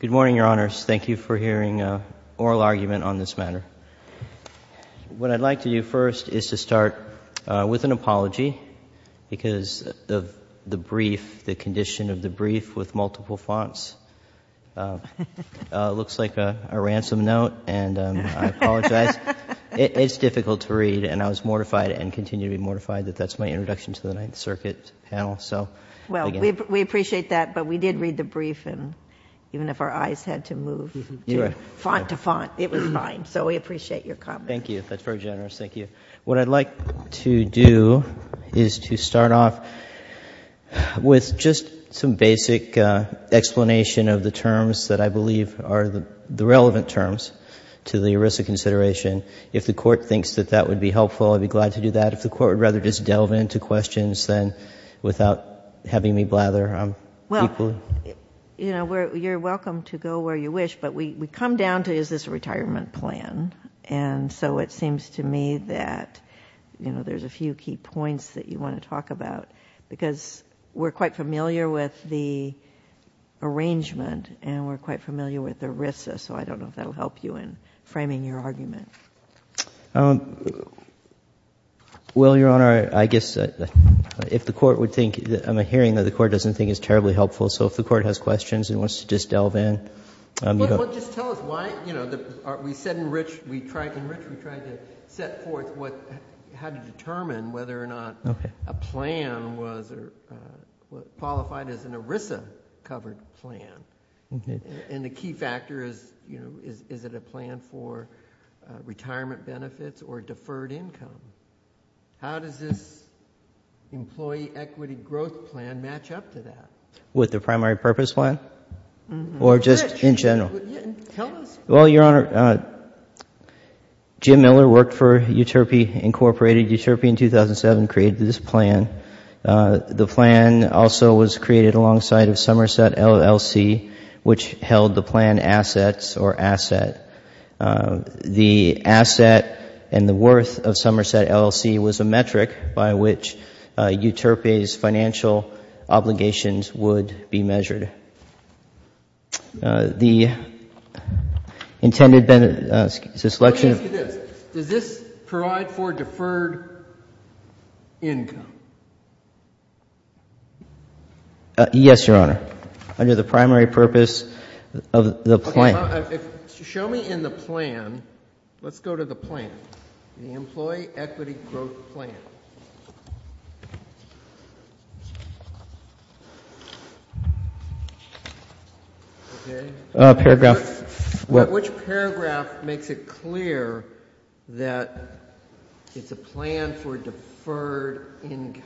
Good morning, Your Honors. Thank you for hearing an oral argument on this matter. What I'd like to do first is to start with an apology because of the brief, the condition of the brief with multiple fonts. It looks like a ransom note and I apologize. It's difficult to read and I was mortified and continue to be mortified that that's my introduction to the Ninth Circuit panel. So, again. Justice Ginsburg Well, we appreciate that, but we did read the brief and even if our eyes had to move to font to font, it was fine. So we appreciate your comment. Eric Olsen Thank you. That's very generous. Thank you. What I'd like to do is to start off with just some basic explanation of the terms that I believe are the relevant terms to the ERISA consideration. If the Court thinks that that If the Court would rather just delve into questions, then without having me blather Justice Ginsburg Well, you know, you're welcome to go where you wish, but we come down to is this a retirement plan? And so it seems to me that, you know, there's a few key points that you want to talk about because we're quite familiar with the arrangement and we're quite familiar with ERISA. So I don't know if that will help you in framing your argument. Eric Olsen Well, Your Honor, I guess if the Court would think I'm hearing that the Court doesn't think it's terribly helpful. So if the Court has questions and wants to just delve in Justice Ginsburg Well, just tell us why, you know, we said in Rich we tried to set forth how to determine whether or not a plan was qualified as an ERISA retirement benefits or deferred income. How does this employee equity growth plan match up to that? Eric Olsen With the primary purpose plan? Or just in general? Justice Ginsburg Tell us Eric Olsen Well, Your Honor, Jim Miller worked for Utopi Incorporated. Utopi in 2007 created this plan. The plan also was created alongside of Somerset LLC, which held the plan assets or asset. The asset and the worth of Somerset LLC was a metric by which Utopi's financial obligations would be measured. The intended benefit Justice Breyer Let me ask you this. Does this provide for deferred income? Eric Olsen Yes, Your Honor. Under the primary purpose of the plan. Justice Breyer Okay. Show me in the plan. Let's go to the plan, the employee equity growth plan. Eric Olsen Paragraph Justice Breyer Which paragraph makes it clear that it's a plan for deferred income?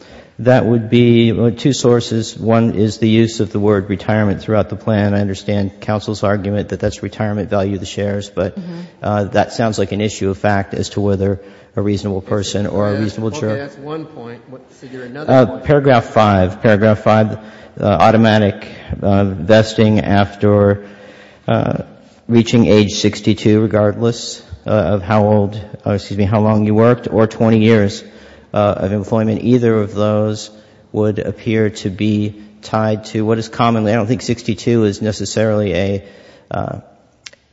Eric Olsen That would be two sources. One is the use of the word retirement throughout the plan. I understand counsel's argument that that's retirement value of the shares, but that sounds like an issue of fact as to whether a reasonable person or a reasonable juror Justice Breyer Okay. That's one point. Figure another point. Eric Olsen Paragraph five. Paragraph five. Automatic vesting after reaching age 62, regardless of how old, excuse me, how long you worked or 20 years of employment, either of those would appear to be tied to what is commonly I don't think 62 is necessarily an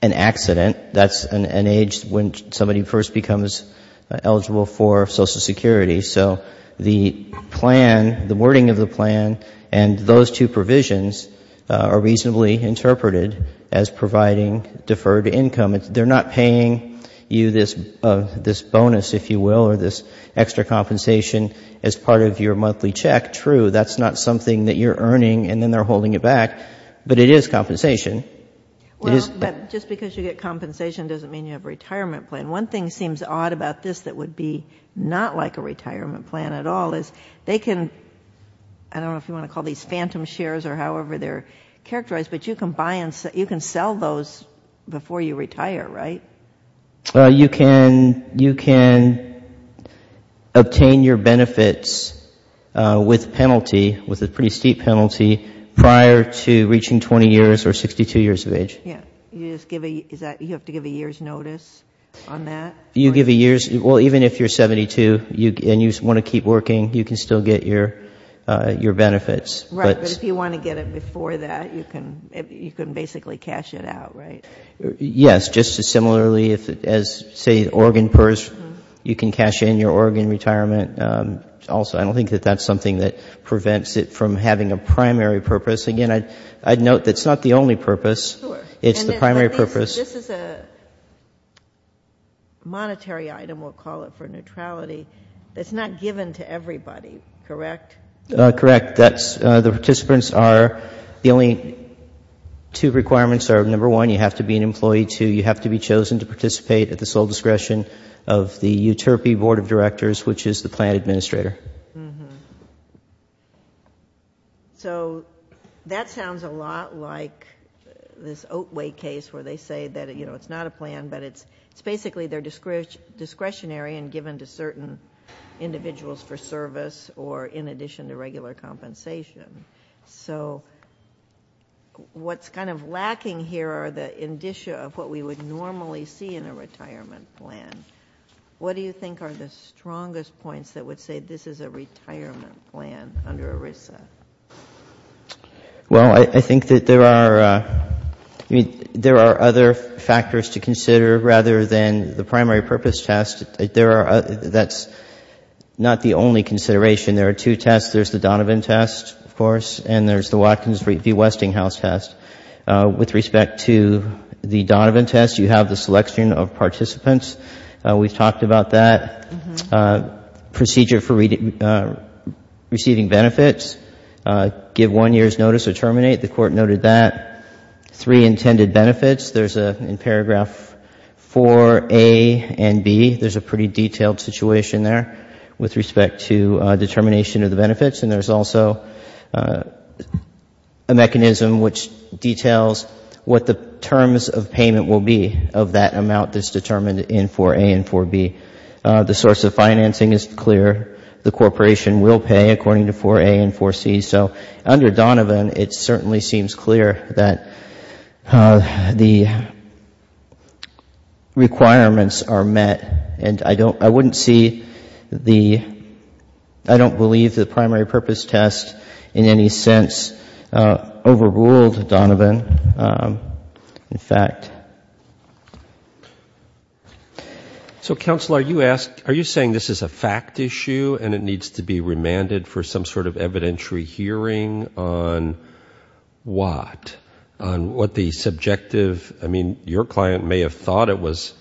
accident. That's an age when somebody first becomes eligible for Social Security. So the plan, the wording of the plan and those two provisions are reasonably interpreted as providing deferred income. They're not paying you this bonus if you will or this extra compensation as part of your monthly check. True, that's not something that you're earning and then they're holding it back, but it is compensation. Justice Kagan Well, just because you get compensation doesn't mean you have a retirement plan. One thing seems odd about this that would be not like a retirement plan at all is they can I don't know if you want to call these phantom shares or however they're characterized, but you can buy and you can sell those before you retire, right? You can obtain your benefits with penalty, with a pretty steep penalty, prior to reaching 20 years or 62 years of age. Yeah, you just give a you have to give a year's notice on that? You give a year's, well, even if you're 72 and you want to keep working, you can still get your benefits. Right, but if you want to get it before that, you can basically cash it out, right? Yes, just as similarly as say Oregon PERS, you can cash in your Oregon retirement. Also, I don't think that that's something that prevents it from having a primary purpose. Again, I'd note that's not the only purpose. It's the primary purpose. This is a monetary item, we'll call it, for neutrality that's not given to everybody, correct? Correct. That's the participants are the only two requirements are number one, you have to be an employee, two, you have to be chosen to participate at the sole discretion of the Uterpi Board of Directors, which is the plan administrator. That sounds a lot like this Oatway case where they say that it's not a plan, but it's basically they're discretionary and given to certain individuals for service or in addition to what we would normally see in a retirement plan. What do you think are the strongest points that would say this is a retirement plan under ERISA? Well, I think that there are other factors to consider rather than the primary purpose test. That's not the only consideration. There are two tests. There's the Donovan test, of course. With respect to the Donovan test, you have the selection of participants. We've talked about that. Procedure for receiving benefits, give one year's notice or terminate, the Court noted that. Three intended benefits, there's in paragraph 4A and B, there's a pretty detailed situation there with respect to determination of the benefits. And there's also a mechanism which details what the terms of payment will be of that amount that's determined in 4A and 4B. The source of financing is clear. The corporation will pay according to 4A and 4C. So under Donovan, it certainly seems clear that the requirements are met. And I wouldn't see the, I don't believe the primary purpose test in any sense overruled the primary purpose test. Overruled Donovan, in fact. So Counselor, are you saying this is a fact issue and it needs to be remanded for some sort of evidentiary hearing on what? On what the subjective, I mean, your client may have thought it was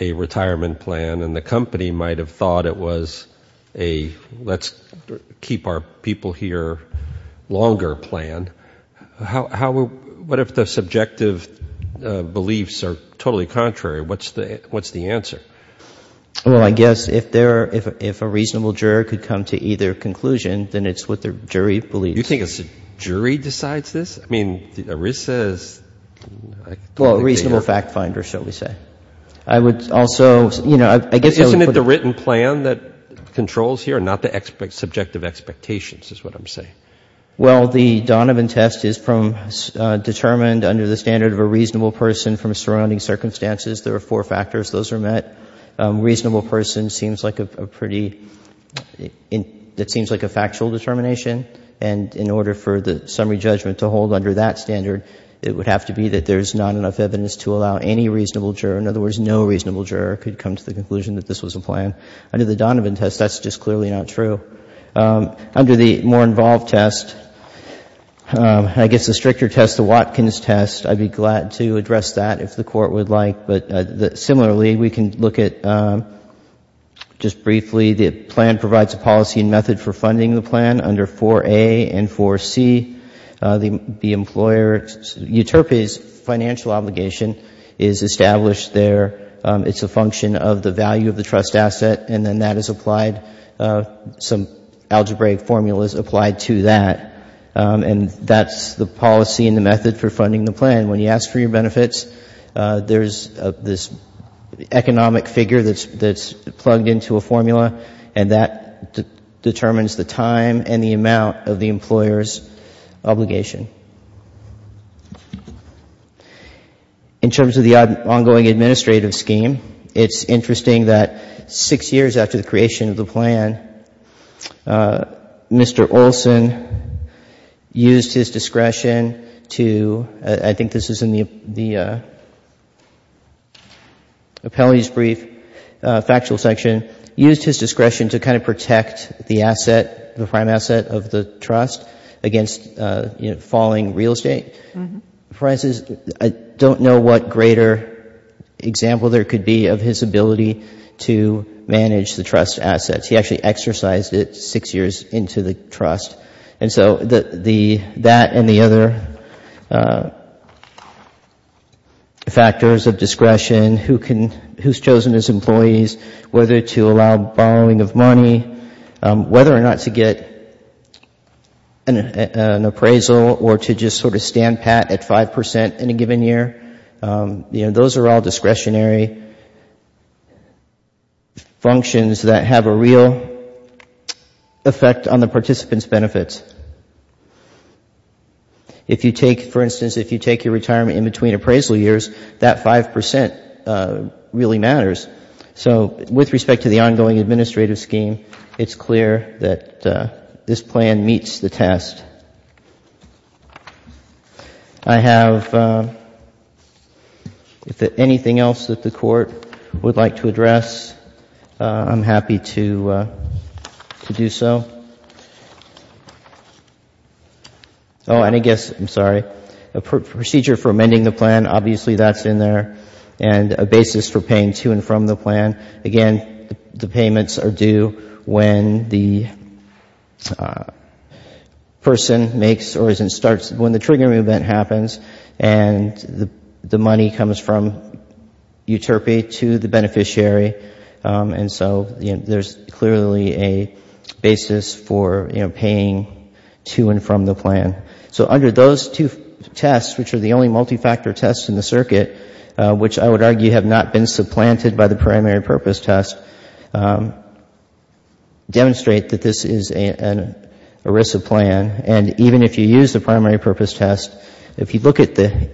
a retirement plan and the company might have thought it was a let's keep our people here longer plan. How, what if the subjective beliefs are totally contrary? What's the answer? Well, I guess if there, if a reasonable juror could come to either conclusion, then it's what the jury believes. You think a jury decides this? I mean, ERISA is... Well, a reasonable fact finder, shall we say. I would also, you know, I guess I would... I would also say that the fact finder should be able to determine whether or not there is a reasonable juror, not the subjective expectations, is what I'm saying. Well, the Donovan test is from, determined under the standard of a reasonable person from surrounding circumstances. There are four factors. Those are met. Reasonable person seems like a pretty, it seems like a factual determination. And in order for the summary judgment to hold under that standard, it would have to be that there's not enough evidence to allow any reasonable juror, in other words, no reasonable juror, could come to the conclusion that this was a plan. Under the Donovan test, that's just clearly not true. Under the more involved test, I guess the stricter test, the Watkins test, I'd be glad to address that if the Court would like. But similarly, we can look at, just briefly, the plan provides a policy and method for funding the plan under 4A and 4C. The employer, UTERPA's financial obligation is established there. It's a policy and it's a function of the value of the trust asset, and then that is applied, some algebraic formula is applied to that. And that's the policy and the method for funding the plan. When you ask for your benefits, there's this economic figure that's plugged into a formula, and that determines the time and the amount of the employer's obligation. In terms of the ongoing administrative scheme, it's interesting that six years after the creation of the plan, Mr. Olson used his discretion to, I think this is in the appellate's brief, factual section, used his discretion to kind of protect the asset, the prime asset of the trust against falling real estate. For instance, I don't know what greater example there could be of his ability to manage the trust assets. He actually exercised it six years into the trust. And so that and the other factors of discretion, who's chosen as employees, whether to allow following of money, whether or not to get an appraisal or to just sort of stand pat at 5% in a given year, you know, those are all discretionary functions that have a real effect on the participant's benefits. If you take, for instance, if you take your retirement in between appraisal years, that 5% really matters. So with respect to the ongoing administrative scheme, it's clear that this plan meets the test. I have, if anything else that the Court would like to address, I'm happy to do so. Oh, and I guess, I'm sorry, a procedure for amending the plan, obviously that's in there, and a basis for paying to and from the plan. Again, the payments are due when the person makes or starts, when the triggering event happens and the money comes from Uterpi to the beneficiary. And so, you know, there's clearly a basis for paying to and from the plan. So under those two tests, which are the only multifactor tests in the circuit, which I would argue have not been supplanted by the primary purpose test, demonstrate that this is an ERISA plan. And even if you use the primary purpose test, if you look at the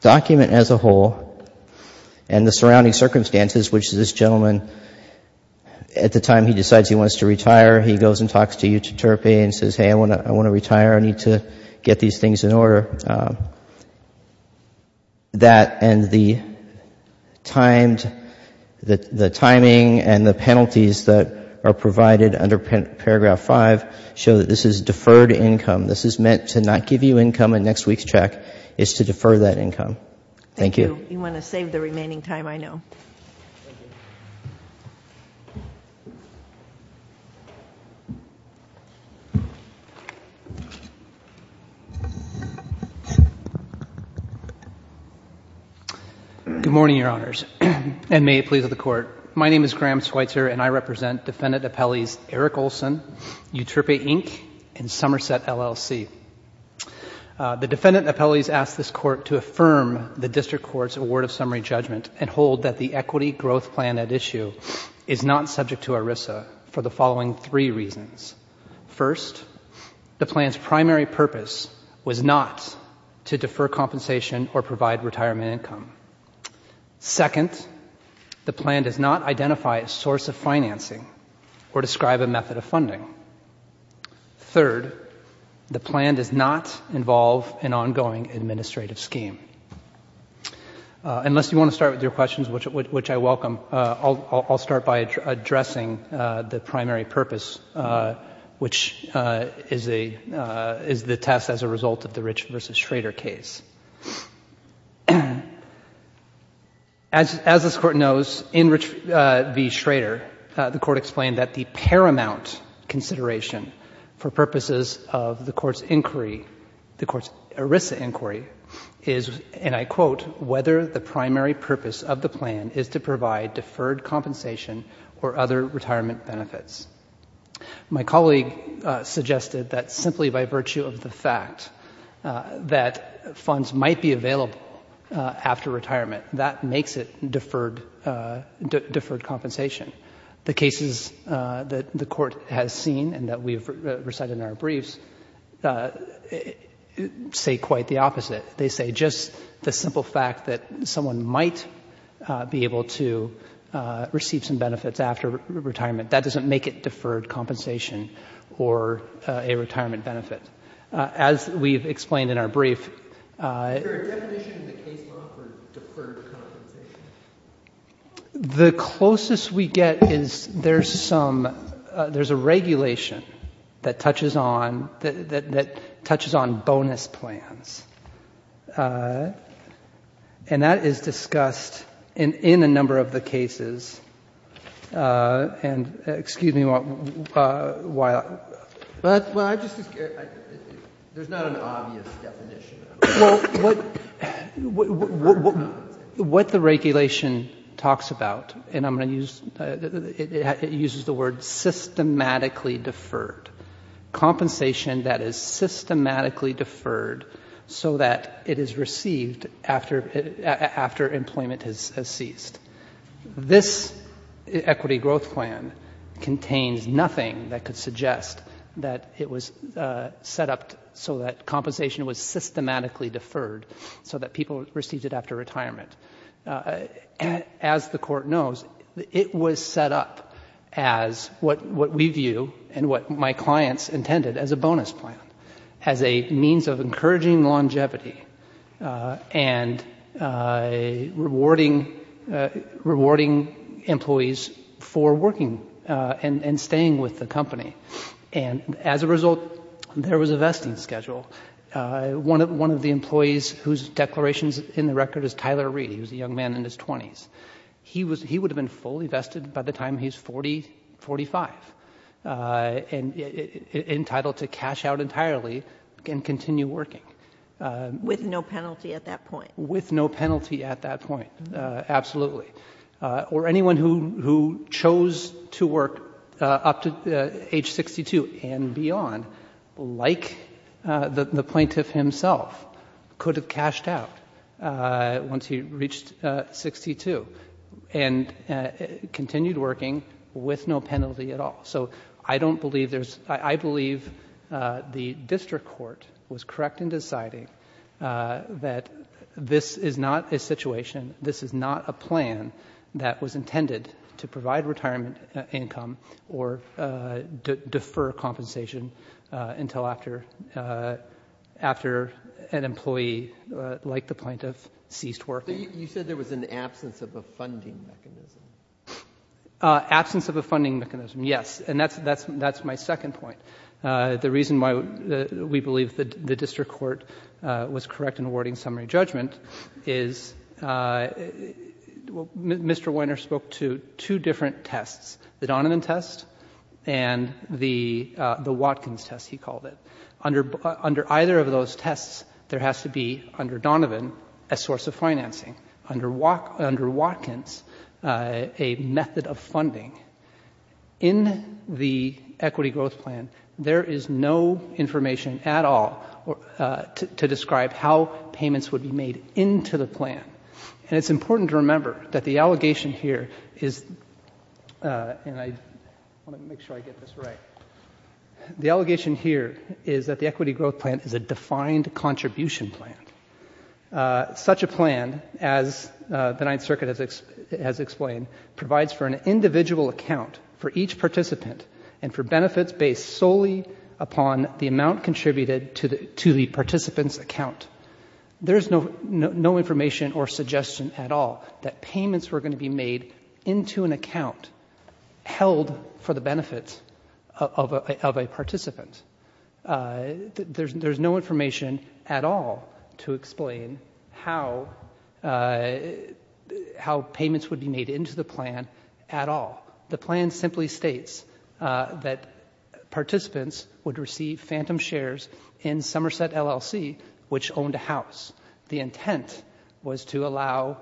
document as a whole and the surrounding circumstances, which this gentleman, at the time he decides he wants to retire, he goes and talks to Uterpi and says, hey, I want to retire, I need to get these things in order, that and the timed, the timing and the penalties that are provided under paragraph five show that this is deferred income. This is meant to not give you income and next week's check is to defer that income. Thank you. You want to save the remaining time, I know. Good morning, Your Honors, and may it please the Court. My name is Graham Schweitzer and I represent Defendant Appellees Eric Olson, Uterpi, Inc. and Somerset, LLC. The Defendant Appellees ask this Court to affirm the District Court's award of summary judgment and hold that the equity growth plan at issue is not subject to ERISA for the following three reasons. First, the plan's primary purpose was not to defer compensation or provide retirement income. Second, the plan does not identify a source of financing or describe a method of funding. Third, the plan does not involve an ongoing administrative scheme. Unless you want to start with your questions, which I welcome, I'll start by addressing the primary purpose, which is the test as a result of the Rich v. Schrader case. As this Court knows, in Rich v. Schrader, the Court explained that the paramount consideration for purposes of the Court's inquiry, the Court's ERISA inquiry, is, and I quote, whether the primary purpose of the plan is to provide deferred compensation or other retirement benefits. My colleague suggested that simply by virtue of the fact that funds might be available after retirement, that makes it deferred compensation. The cases that the Court has seen and that we have recited in our briefs say quite the opposite. They say just the simple fact that someone might be able to receive some benefits after retirement, that doesn't make it deferred compensation or a retirement benefit, as we've explained in our brief. The closest we get is there's some, there's a regulation that touches on, that touches on bonus plans. And that is discussed in a number of the cases, and excuse me while I just, there's not an obvious definition. Well, what the regulation talks about, and I'm going to use, it uses the word systematically deferred, compensation that is systematically deferred so that it is received after employment has ceased. This equity growth plan contains nothing that could suggest that it was deferred because it was set up so that compensation was systematically deferred so that people received it after retirement. As the Court knows, it was set up as what we view and what my clients intended as a bonus plan, as a means of encouraging longevity and rewarding employees for working and staying with the company. And as a result, there was a vesting schedule. One of the employees whose declarations in the record is Tyler Reed, he was a young man in his 20s. He would have been fully vested by the time he was 40, 45, entitled to cash out entirely and continue working. With no penalty at that point. Absolutely. Or anyone who chose to work up to age 62 and beyond, like the plaintiff himself, could have cashed out once he reached 62 and continued working with no penalty at all. So I don't believe there's... I believe the district court was correct in deciding that this is not a situation, this is not a plan that was intended to provide retirement income or defer compensation until after an employee like the plaintiff ceased working. You said there was an absence of a funding mechanism. Absence of a funding mechanism, yes. And that's my second point. The reason why we believe the district court was correct in awarding summary judgment is... Mr. Weiner spoke to two different tests, the Donovan test and the Watkins test, he called it. Under either of those tests, there has to be, under Donovan, a source of financing. Under Watkins, a method of funding. In the equity growth plan, there is no information at all about whether the district court was correct in awarding the summary judgment. There is no information at all to describe how payments would be made into the plan. And it's important to remember that the allegation here is... and I want to make sure I get this right. The allegation here is that the equity growth plan is a defined contribution plan. Such a plan, as the Ninth Amendment states, is a contribution to the participant's account. There is no information or suggestion at all that payments were going to be made into an account held for the benefits of a participant. There is no information at all to explain how payments would be made into the plan at all. The plan simply states that participants would receive phantom shares in the Somerset LLC, which owned a house. The intent was to allow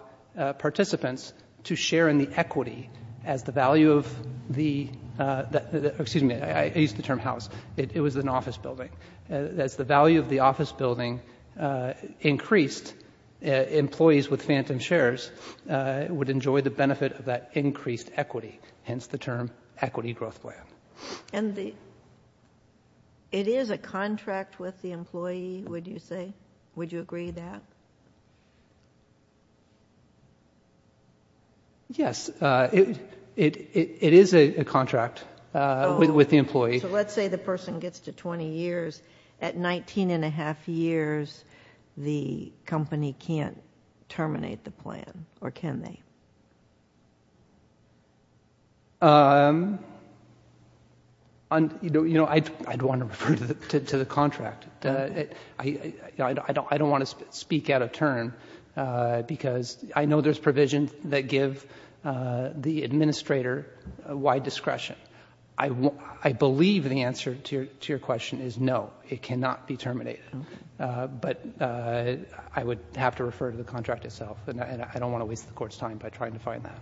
participants to share in the equity as the value of the... excuse me, I used the term house. It was an office building. As the value of the office building increased, employees with phantom shares would enjoy the benefit of that increased equity, hence the term equity growth plan. And it is a contract with the employee, would you say? Would you agree with that? Yes. It is a contract with the employee. So let's say the person gets to 20 years. At 19 and a half years, the company can't terminate the plan, or can they? I'd want to refer to the contract. I don't want to speak out of turn, because I know there's provisions that give the administrator wide discretion. I believe the answer to your question is no, it cannot be terminated. But I would have to refer to the contract itself, and I don't want to waste the Court's time by trying to find that.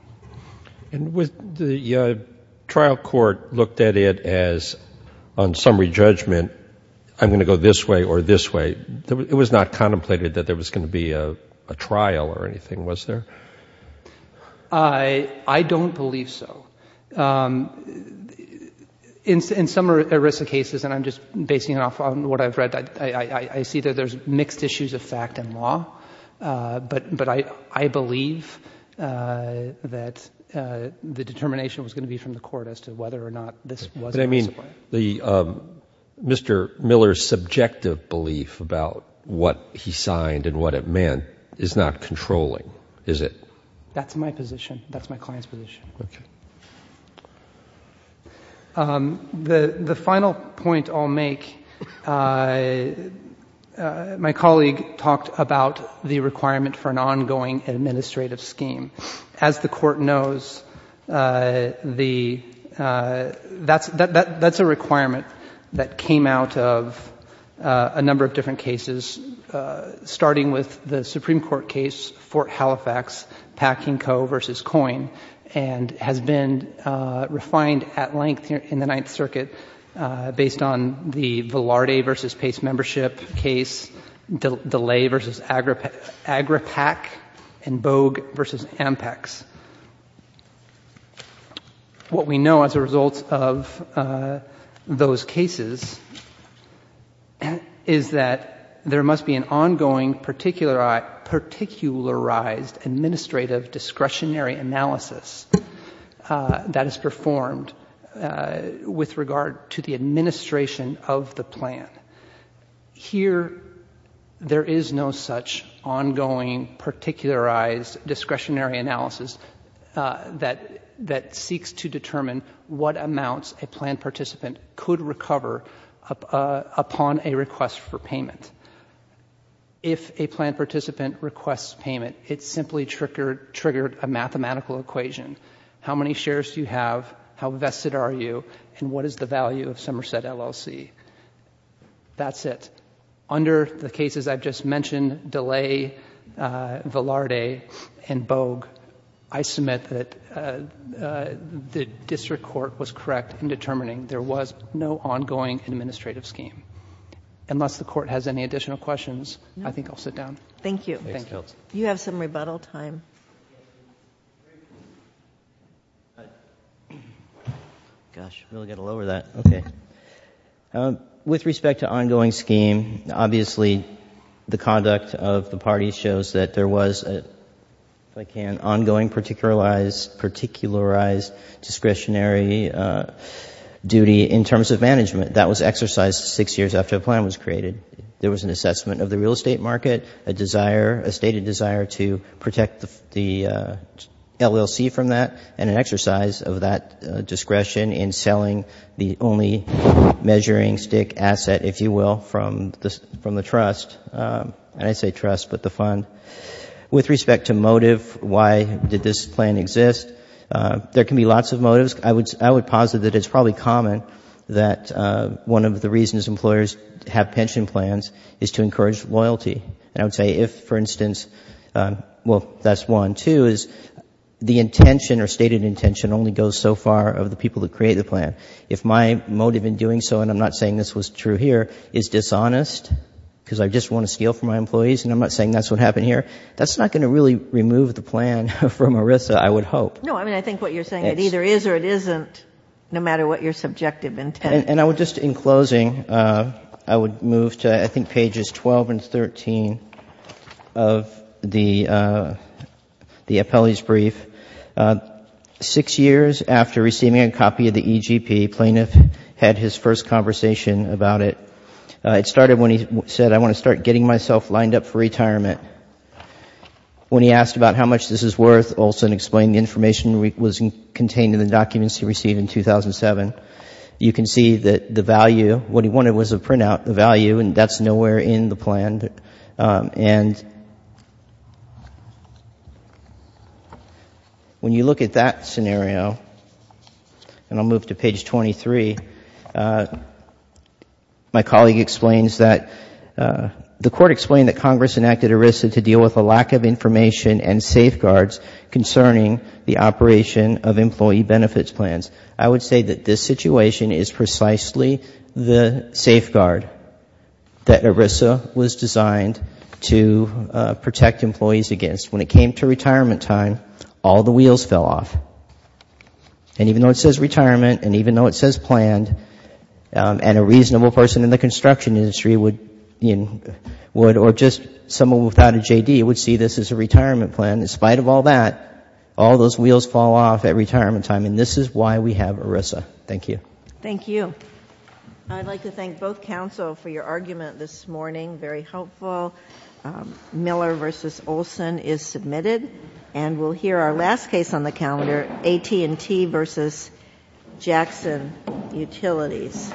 And the trial court looked at it as, on summary judgment, I'm going to go this way or this way. It was not contemplated that there was going to be a trial or anything, was there? I don't believe so. In some ERISA cases, and I'm just basing it off what I've read, I see that there's mixed issues of fact and law. But I believe that there is a possibility that the determination was going to be from the Court as to whether or not this was an ERISA plan. But I mean, Mr. Miller's subjective belief about what he signed and what it meant is not controlling, is it? That's my position. That's my client's position. The final point I'll make, my colleague talked about the requirement for an ongoing administrative scheme. As the Court knows, that's a requirement that came out of a number of different cases, starting with the Supreme Court case, Fort Halifax, Packing Co. v. Coyne, and has been refined at length in the Ninth Circuit based on the Velarde v. Pace membership case, DeLay v. Agripac, and Bogue v. Ampex. What we know as a result of those cases is that there must be an ongoing particularized administrative discretionary analysis that is performed with regard to the administration of the plan. Here, there is no such ongoing particularized discretionary analysis that seeks to determine what amounts a plan participant could recover upon a request for payment. If a plan participant requests payment, it simply triggered a mathematical equation. How many shares do you have, how vested are you, and what is the value of Somerset LLC? That's it. Under the cases I've just mentioned, DeLay, Velarde, and Bogue, I submit that the district court was correct in determining there was no ongoing administrative scheme. Unless the Court has any additional questions, I think I'll sit down. Thank you. With respect to ongoing scheme, obviously the conduct of the parties shows that there was, if I can, ongoing particularized discretionary duty in terms of management. That was exercised six years after a plan was created. There was an assessment of the real estate market, a stated desire to protect the LLC from that, and an exercise of that discretion in selling the only measuring stick asset, if you will, from the trust. And I say trust, but the fund. With respect to motive, why did this plan exist? There can be lots of motives. I would posit that it's probably common that one of the reasons employers have pension plans is to encourage loyalty. And I would say if, for instance, well, that's one. Two is the intention or stated intention only goes so far of the people that create the plan. If my motive in doing so, and I'm not saying this was true here, is dishonest, because I just want to scale for my employees, and I'm not saying that's what happened here, that's not going to really remove the plan from ERISA, I would hope. And I would just, in closing, I would move to I think pages 12 and 13 of the appellee's brief. Six years after receiving a copy of the EGP, Plaintiff had his first conversation about it. It started when he said, I want to start getting myself lined up for retirement. When he asked about how much this is worth, and the information was contained in the documents he received in 2007, you can see that the value, what he wanted was a printout, the value, and that's nowhere in the plan. And when you look at that scenario, and I'll move to page 23, my colleague explains that the Court explained that Congress enacted ERISA to deal with a lack of information and safeguards concerning the operation of employee benefits plans. I would say that this situation is precisely the safeguard that ERISA was designed to protect employees against. When it came to retirement time, all the wheels fell off. And even though it says retirement, and even though it says planned, and a reasonable person in the construction industry would, or just someone without a JD would see this as a retirement plan, in spite of all that, all those wheels fall off at retirement time, and this is why we have ERISA. Thank you. Thank you. I'd like to thank both counsel for your argument this morning. Very helpful. Miller v. Olson is submitted. And we'll hear our last case on the calendar, AT&T v. Jackson Utilities.